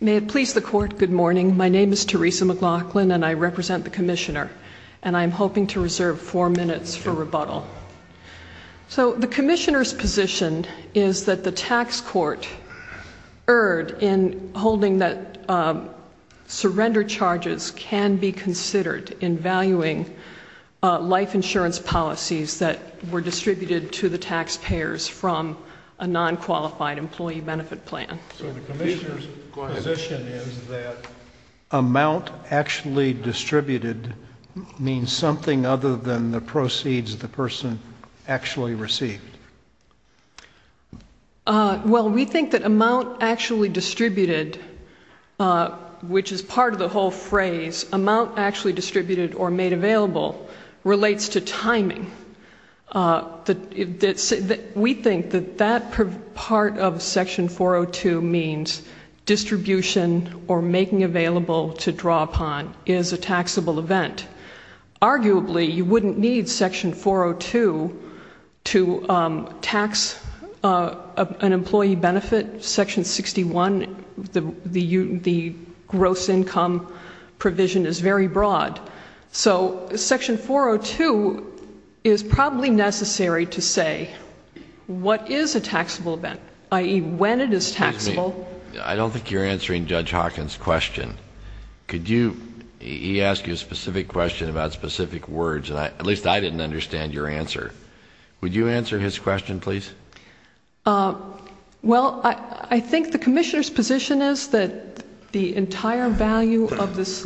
May it please the Court, good morning. My name is Theresa McLaughlin and I represent the Commissioner, and I am hoping to reserve four minutes for rebuttal. So the Commissioner's position is that the tax court erred in holding that surrender charges can be considered in valuing life insurance policies that were distributed to the taxpayers from a non-qualified employee benefit plan. So the Commissioner's position is that amount actually distributed means something other than the proceeds the person actually received. Well, we think that amount actually distributed, which is part of the whole phrase, amount actually distributed or made available relates to timing. We think that that part of Section 402 means distribution or making available to draw upon is a taxable event. Arguably, you wouldn't need Section 402 to tax an employee benefit. Section 61, the gross income provision, is very broad. So Section 402 is probably necessary to say what is a taxable event, i.e., when it is taxable. Excuse me, I don't think you're answering Judge Hawkins' question. Could you, he asked you a specific question about specific words, and at least I didn't understand your answer. Would you answer his question, please? Well, I think the Commissioner's position is that the entire value of these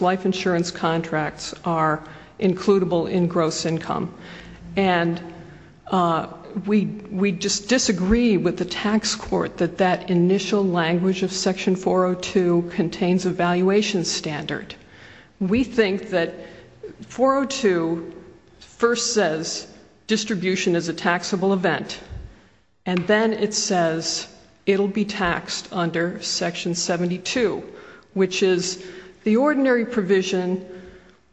life insurance contracts are includable in gross income. And we just disagree with the tax court that that initial language of Section 402 contains a valuation standard. We think that 402 first says distribution is a taxable event, and then it says it will be taxed under Section 72, which is the ordinary provision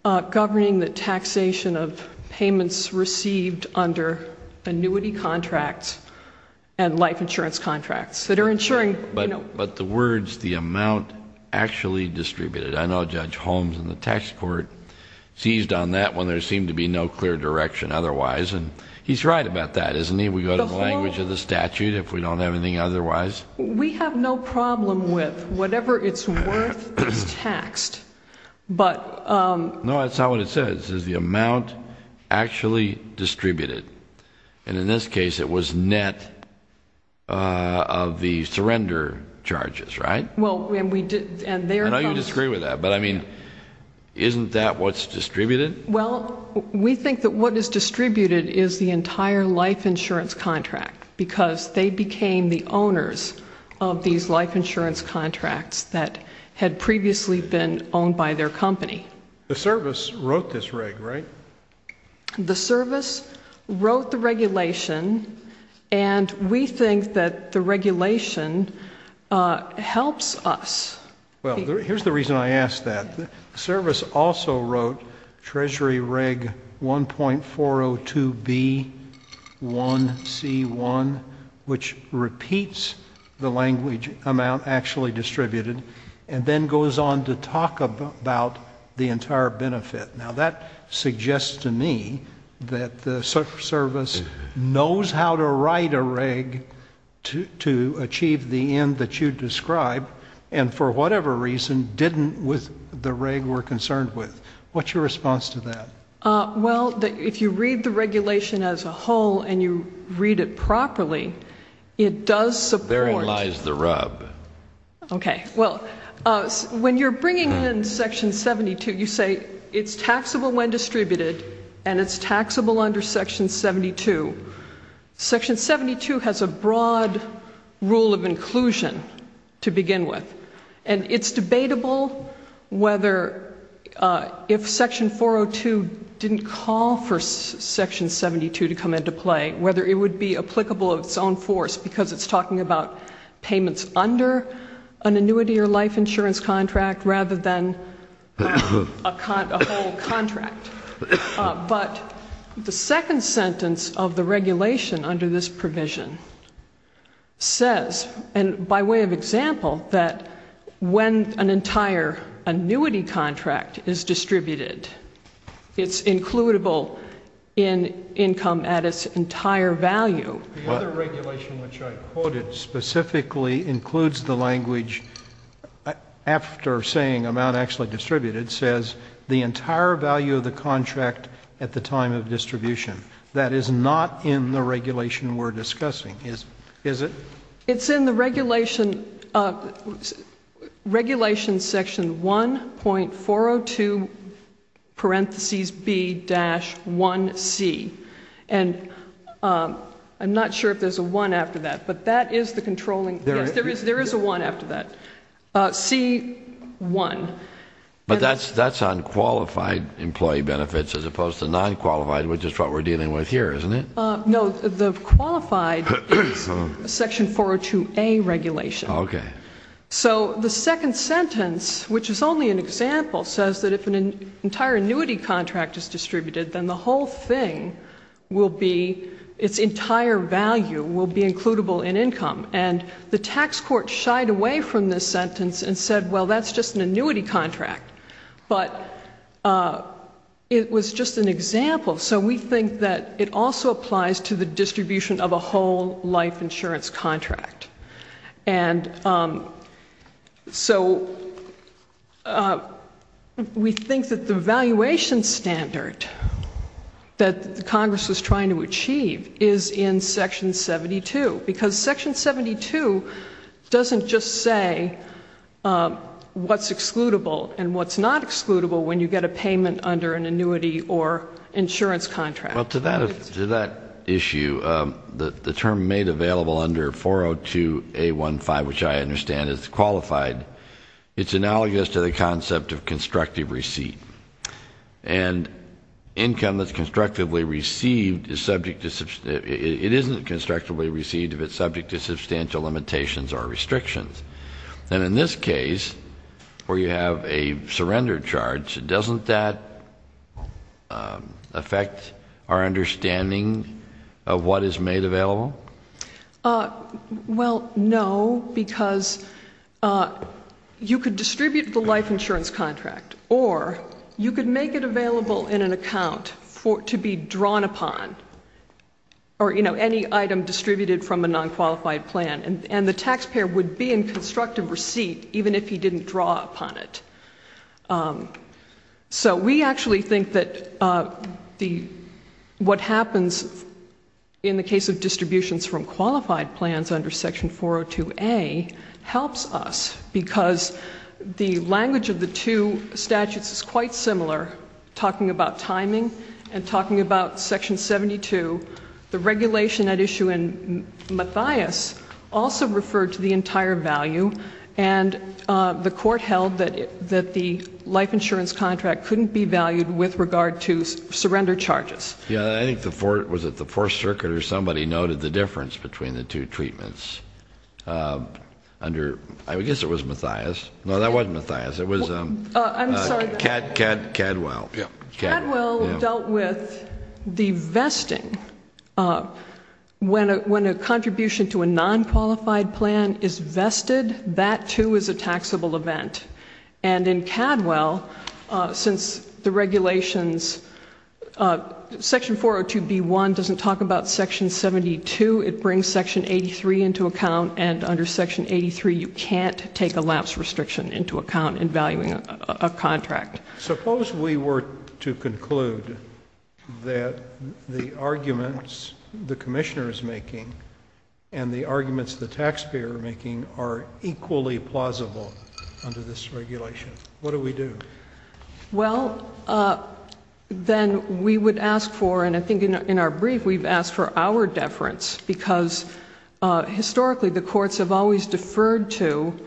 governing the taxation of payments received under annuity contracts and life insurance contracts. But the words, the amount actually distributed. I know Judge Holmes in the tax court seized on that one. There seemed to be no clear direction otherwise, and he's right about that, isn't he? We go to the language of the statute if we don't have anything otherwise. We have no problem with whatever it's worth is taxed. No, that's not what it says. It says the amount actually distributed. And in this case, it was net of the surrender charges, right? I know you disagree with that, but, I mean, isn't that what's distributed? Well, we think that what is distributed is the entire life insurance contract, because they became the owners of these life insurance contracts that had previously been owned by their company. The service wrote this reg, right? The service wrote the regulation, and we think that the regulation helps us. Well, here's the reason I ask that. The service also wrote Treasury Reg 1.402B1C1, which repeats the language amount actually distributed, and then goes on to talk about the entire benefit. Now, that suggests to me that the service knows how to write a reg to achieve the end that you describe, and for whatever reason didn't with the reg we're concerned with. What's your response to that? Well, if you read the regulation as a whole and you read it properly, it does support. Therein lies the rub. Okay. Well, when you're bringing in Section 72, you say it's taxable when distributed and it's taxable under Section 72. Section 72 has a broad rule of inclusion to begin with, and it's debatable whether if Section 402 didn't call for Section 72 to come into play, whether it would be applicable of its own force because it's talking about payments under an annuity or life insurance contract rather than a whole contract. But the second sentence of the regulation under this provision says, and by way of example, that when an entire annuity contract is distributed, it's includable in income at its entire value. The other regulation which I quoted specifically includes the language after saying amount actually distributed says, the entire value of the contract at the time of distribution. That is not in the regulation we're discussing, is it? It's in the regulation section 1.402 parentheses B-1C. And I'm not sure if there's a 1 after that, but that is the controlling. Yes, there is a 1 after that. C-1. But that's on qualified employee benefits as opposed to non-qualified, which is what we're dealing with here, isn't it? No, the qualified is Section 402A regulation. Okay. So the second sentence, which is only an example, says that if an entire annuity contract is distributed, then the whole thing will be, its entire value will be includable in income. And the tax court shied away from this sentence and said, well, that's just an annuity contract. But it was just an example. So we think that it also applies to the distribution of a whole life insurance contract. And so we think that the valuation standard that Congress was trying to achieve is in Section 72, because Section 72 doesn't just say what's excludable and what's not excludable when you get a payment under an annuity or insurance contract. Well, to that issue, the term made available under 402A15, which I understand is qualified, it's analogous to the concept of constructive receipt. And income that's constructively received is subject to, it isn't constructively received if it's subject to substantial limitations or restrictions. And in this case, where you have a surrender charge, doesn't that affect our understanding of what is made available? Well, no, because you could distribute the life insurance contract or you could make it available in an account to be drawn upon, or, you know, any item distributed from a non-qualified plan. And the taxpayer would be in constructive receipt even if he didn't draw upon it. So we actually think that what happens in the case of distributions from qualified plans under Section 402A helps us because the language of the two statutes is quite similar, talking about timing and talking about Section 72. The regulation at issue in Mathias also referred to the entire value, and the court held that the life insurance contract couldn't be valued with regard to surrender charges. Yeah, I think the Fourth Circuit or somebody noted the difference between the two treatments. I guess it was Mathias. No, that wasn't Mathias. It was Cadwell. Cadwell dealt with the vesting. When a contribution to a non-qualified plan is vested, that, too, is a taxable event. And in Cadwell, since the regulations, Section 402B1 doesn't talk about Section 72. It brings Section 83 into account, and under Section 83 you can't take a lapse restriction into account in valuing a contract. Suppose we were to conclude that the arguments the commissioner is making and the arguments the taxpayer is making are equally plausible under this regulation. What do we do? Well, then we would ask for, and I think in our brief we've asked for our deference, because historically the courts have always deferred to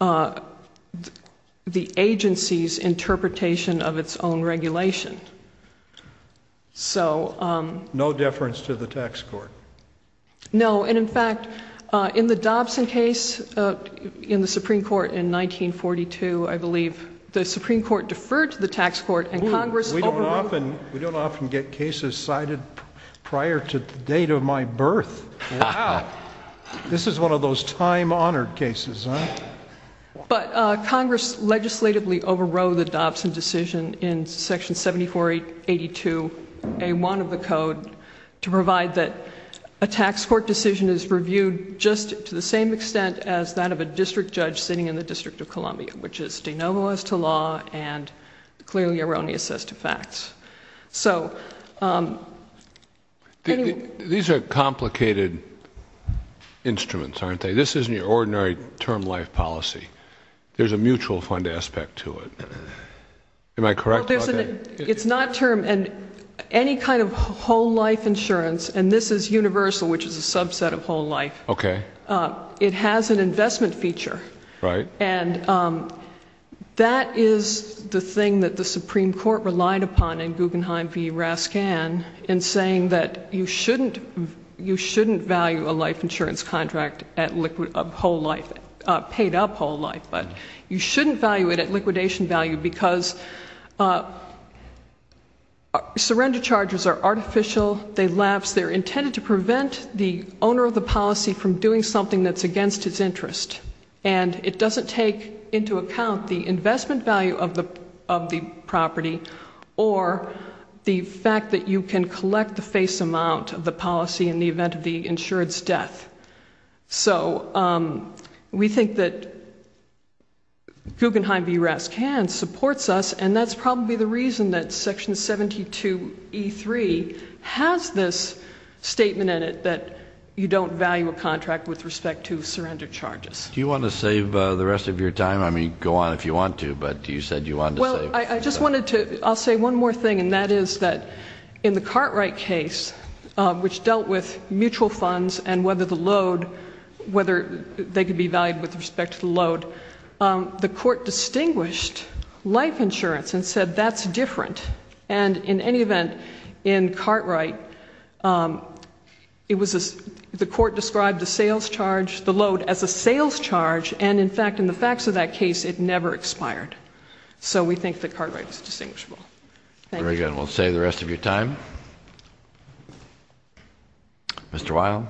the agency's interpretation of its own regulation. No deference to the tax court. No, and, in fact, in the Dobson case in the Supreme Court in 1942, I believe, the Supreme Court deferred to the tax court and Congress overruled it. We don't often get cases cited prior to the date of my birth. Wow. This is one of those time-honored cases, huh? But Congress legislatively overruled the Dobson decision in Section 7482A1 of the Code to provide that a tax court decision is reviewed just to the same extent as that of a district judge sitting in the District of Columbia, which is de novo as to law and clearly erroneous as to facts. So anyway... These are complicated instruments, aren't they? This isn't your ordinary term life policy. There's a mutual fund aspect to it. Am I correct about that? It's not term. And any kind of whole life insurance, and this is universal, which is a subset of whole life. Okay. It has an investment feature. Right. And that is the thing that the Supreme Court relied upon in Guggenheim v. Raskin in saying that you shouldn't value a life insurance contract at whole life, paid up whole life, but you shouldn't value it at liquidation value because surrender charges are artificial. They're intended to prevent the owner of the policy from doing something that's against his interest. And it doesn't take into account the investment value of the property or the fact that you can collect the face amount of the policy in the event of the insured's death. So we think that Guggenheim v. Raskin supports us, and that's probably the reason that Section 72E3 has this statement in it that you don't value a contract with respect to surrender charges. Do you want to save the rest of your time? I mean, go on if you want to, but you said you wanted to save. Well, I'll say one more thing, and that is that in the Cartwright case, which dealt with mutual funds and whether they could be valued with respect to the load, the court distinguished life insurance and said that's different. And in any event, in Cartwright, the court described the load as a sales charge, and, in fact, in the facts of that case, it never expired. So we think that Cartwright is distinguishable. Very good. We'll save the rest of your time. Mr. Weil.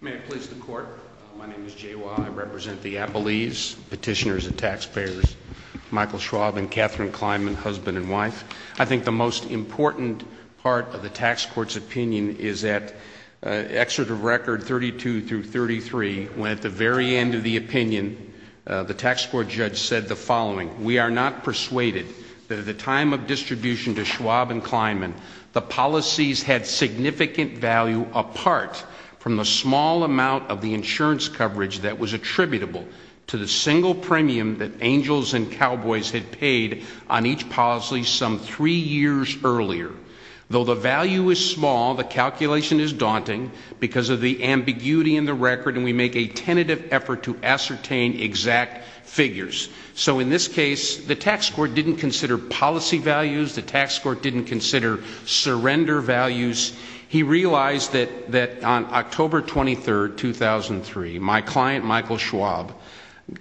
May I please the Court? My name is Jay Weil. I represent the Appellees, petitioners and taxpayers, Michael Schwab and Catherine Kleinman, husband and wife. I think the most important part of the tax court's opinion is at Excerpt of Record 32 through 33, when at the very end of the opinion, the tax court judge said the following, We are not persuaded that at the time of distribution to Schwab and Kleinman, the policies had significant value apart from the small amount of the insurance coverage that was attributable to the single premium that angels and cowboys had paid on each policy some three years earlier. Though the value is small, the calculation is daunting because of the ambiguity in the record, and we make a tentative effort to ascertain exact figures. So in this case, the tax court didn't consider policy values. The tax court didn't consider surrender values. He realized that on October 23, 2003, my client, Michael Schwab,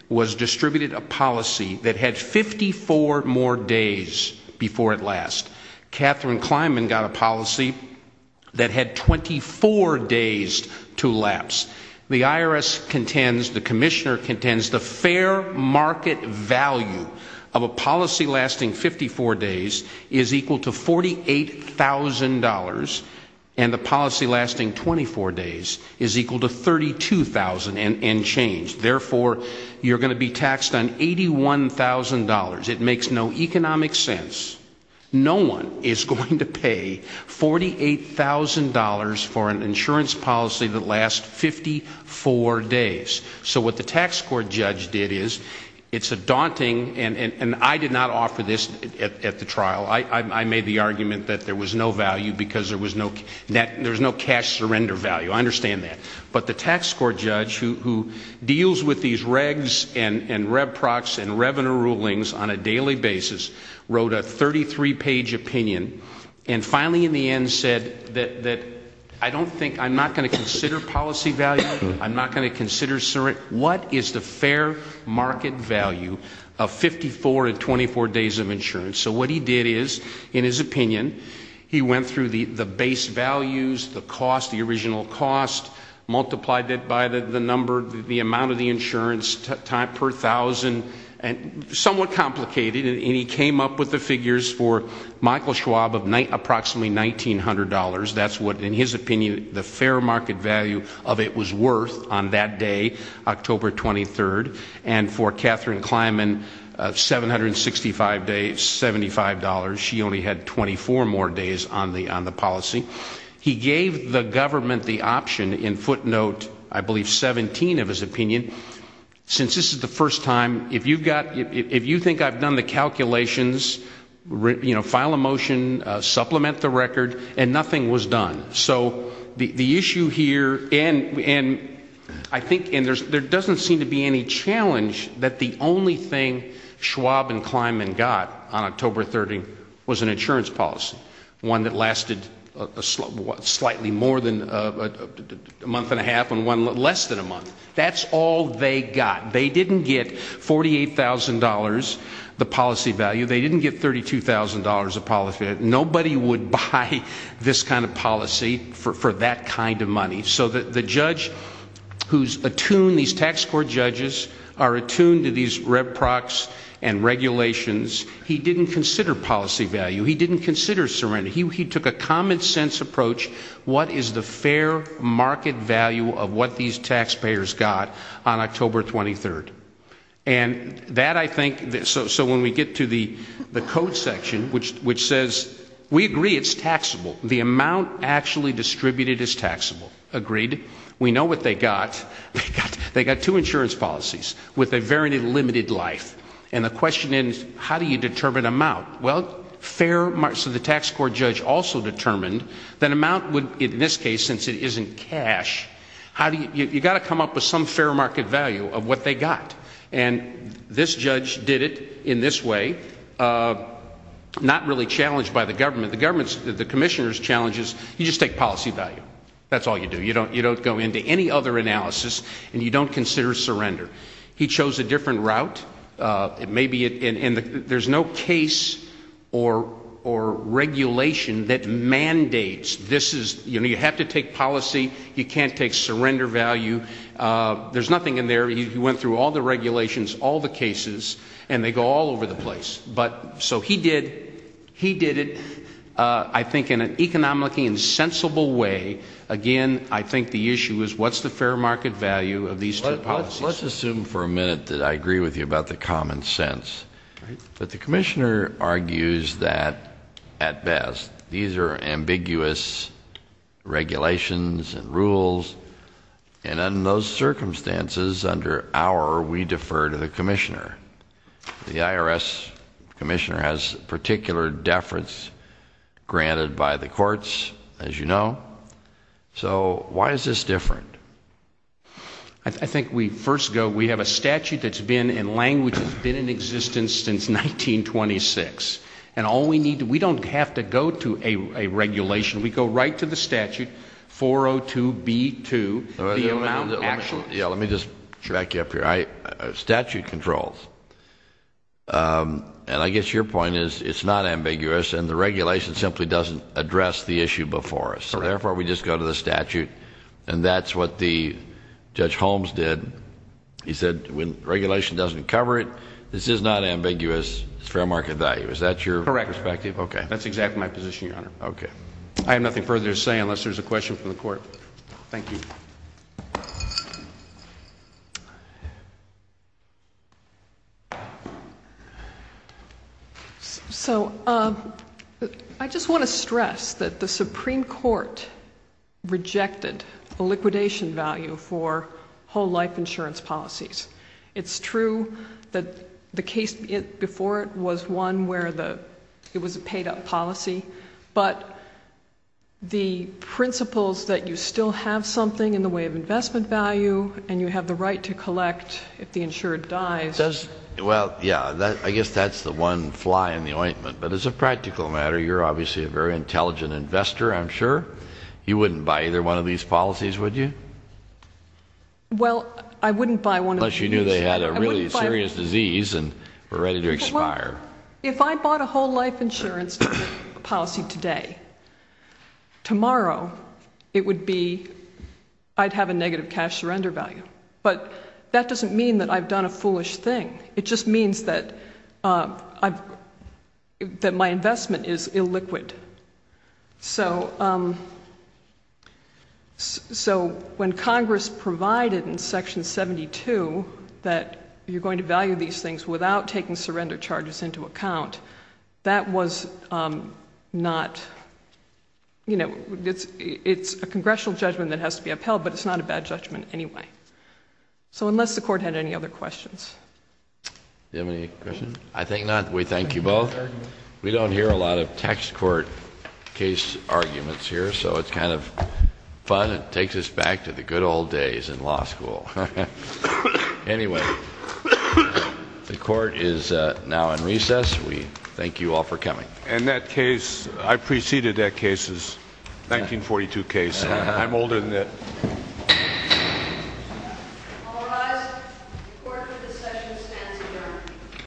was distributed a policy that had 54 more days before it lasts. Catherine Kleinman got a policy that had 24 days to lapse. The IRS contends, the commissioner contends, the fair market value of a policy lasting 54 days is equal to $48,000, and the policy lasting 24 days is equal to $32,000 and change. Therefore, you're going to be taxed on $81,000. It makes no economic sense. No one is going to pay $48,000 for an insurance policy that lasts 54 days. So what the tax court judge did is, it's a daunting, and I did not offer this at the trial. I made the argument that there was no value because there was no cash surrender value. I understand that. But the tax court judge, who deals with these regs and rev prox and revenue rulings on a daily basis, wrote a 33-page opinion and finally in the end said that I don't think, I'm not going to consider policy value. I'm not going to consider surrender. What is the fair market value of 54 and 24 days of insurance? So what he did is, in his opinion, he went through the base values, the cost, the original cost, multiplied it by the number, the amount of the insurance per thousand, somewhat complicated, and he came up with the figures for Michael Schwab of approximately $1,900. That's what, in his opinion, the fair market value of it was worth on that day, October 23rd. And for Katherine Kleinman, 765 days, $75. She only had 24 more days on the policy. He gave the government the option, in footnote, I believe 17 of his opinion, since this is the first time, if you think I've done the calculations, file a motion, supplement the record, and nothing was done. So the issue here, and I think there doesn't seem to be any challenge that the only thing Schwab and Kleinman got on October 30th was an insurance policy, one that lasted slightly more than a month and a half and one less than a month. That's all they got. They didn't get $48,000, the policy value. They didn't get $32,000, the policy value. Nobody would buy this kind of policy for that kind of money. So the judge who's attuned, these tax court judges are attuned to these reprox and regulations. He didn't consider policy value. He didn't consider surrender. He took a common sense approach. What is the fair market value of what these taxpayers got on October 23rd? And that I think, so when we get to the code section, which says we agree it's taxable. The amount actually distributed is taxable. Agreed. We know what they got. They got two insurance policies with a very limited life. And the question is how do you determine amount? Well, fair, so the tax court judge also determined that amount would, in this case, since it isn't cash, how do you, you've got to come up with some fair market value of what they got. And this judge did it in this way, not really challenged by the government. The government's, the commissioner's challenge is you just take policy value. That's all you do. You don't go into any other analysis and you don't consider surrender. He chose a different route. It may be, and there's no case or regulation that mandates this is, you know, you have to take policy. You can't take surrender value. There's nothing in there. He went through all the regulations, all the cases, and they go all over the place. But so he did. He did it, I think, in an economically insensible way. Again, I think the issue is what's the fair market value of these two policies? Let's assume for a minute that I agree with you about the common sense. But the commissioner argues that, at best, these are ambiguous regulations and rules, and in those circumstances, under our, we defer to the commissioner. The IRS commissioner has particular deference granted by the courts, as you know. So why is this different? I think we first go, we have a statute that's been in language that's been in existence since 1926, and all we need to, we don't have to go to a regulation. We go right to the statute, 402B2, the amount actual. Yeah, let me just back you up here. Statute controls, and I guess your point is it's not ambiguous, and the regulation simply doesn't address the issue before us. So therefore, we just go to the statute, and that's what the Judge Holmes did. He said when regulation doesn't cover it, this is not ambiguous, it's fair market value. Is that your perspective? Correct. That's exactly my position, Your Honor. Okay. I have nothing further to say unless there's a question from the court. Thank you. So I just want to stress that the Supreme Court rejected the liquidation value for whole life insurance policies. It's true that the case before it was one where it was a paid-up policy, but the principles that you still have something in the way of investment value and you have the right to collect if the insured dies. Well, yeah, I guess that's the one fly in the ointment. But as a practical matter, you're obviously a very intelligent investor, I'm sure. You wouldn't buy either one of these policies, would you? Well, I wouldn't buy one of these. Unless you knew they had a really serious disease and were ready to expire. If I bought a whole life insurance policy today, tomorrow it would be I'd have a negative cash surrender value. But that doesn't mean that I've done a foolish thing. It just means that my investment is illiquid. So when Congress provided in Section 72 that you're going to value these things without taking surrender charges into account, that was not, you know, it's a congressional judgment that has to be upheld, but it's not a bad judgment anyway. So unless the court had any other questions. Do you have any questions? I think not. We thank you both. We don't hear a lot of tax court case arguments here, so it's kind of fun. It takes us back to the good old days in law school. Anyway, the court is now in recess. We thank you all for coming. And that case, I preceded that case's 1942 case. I'm older than that.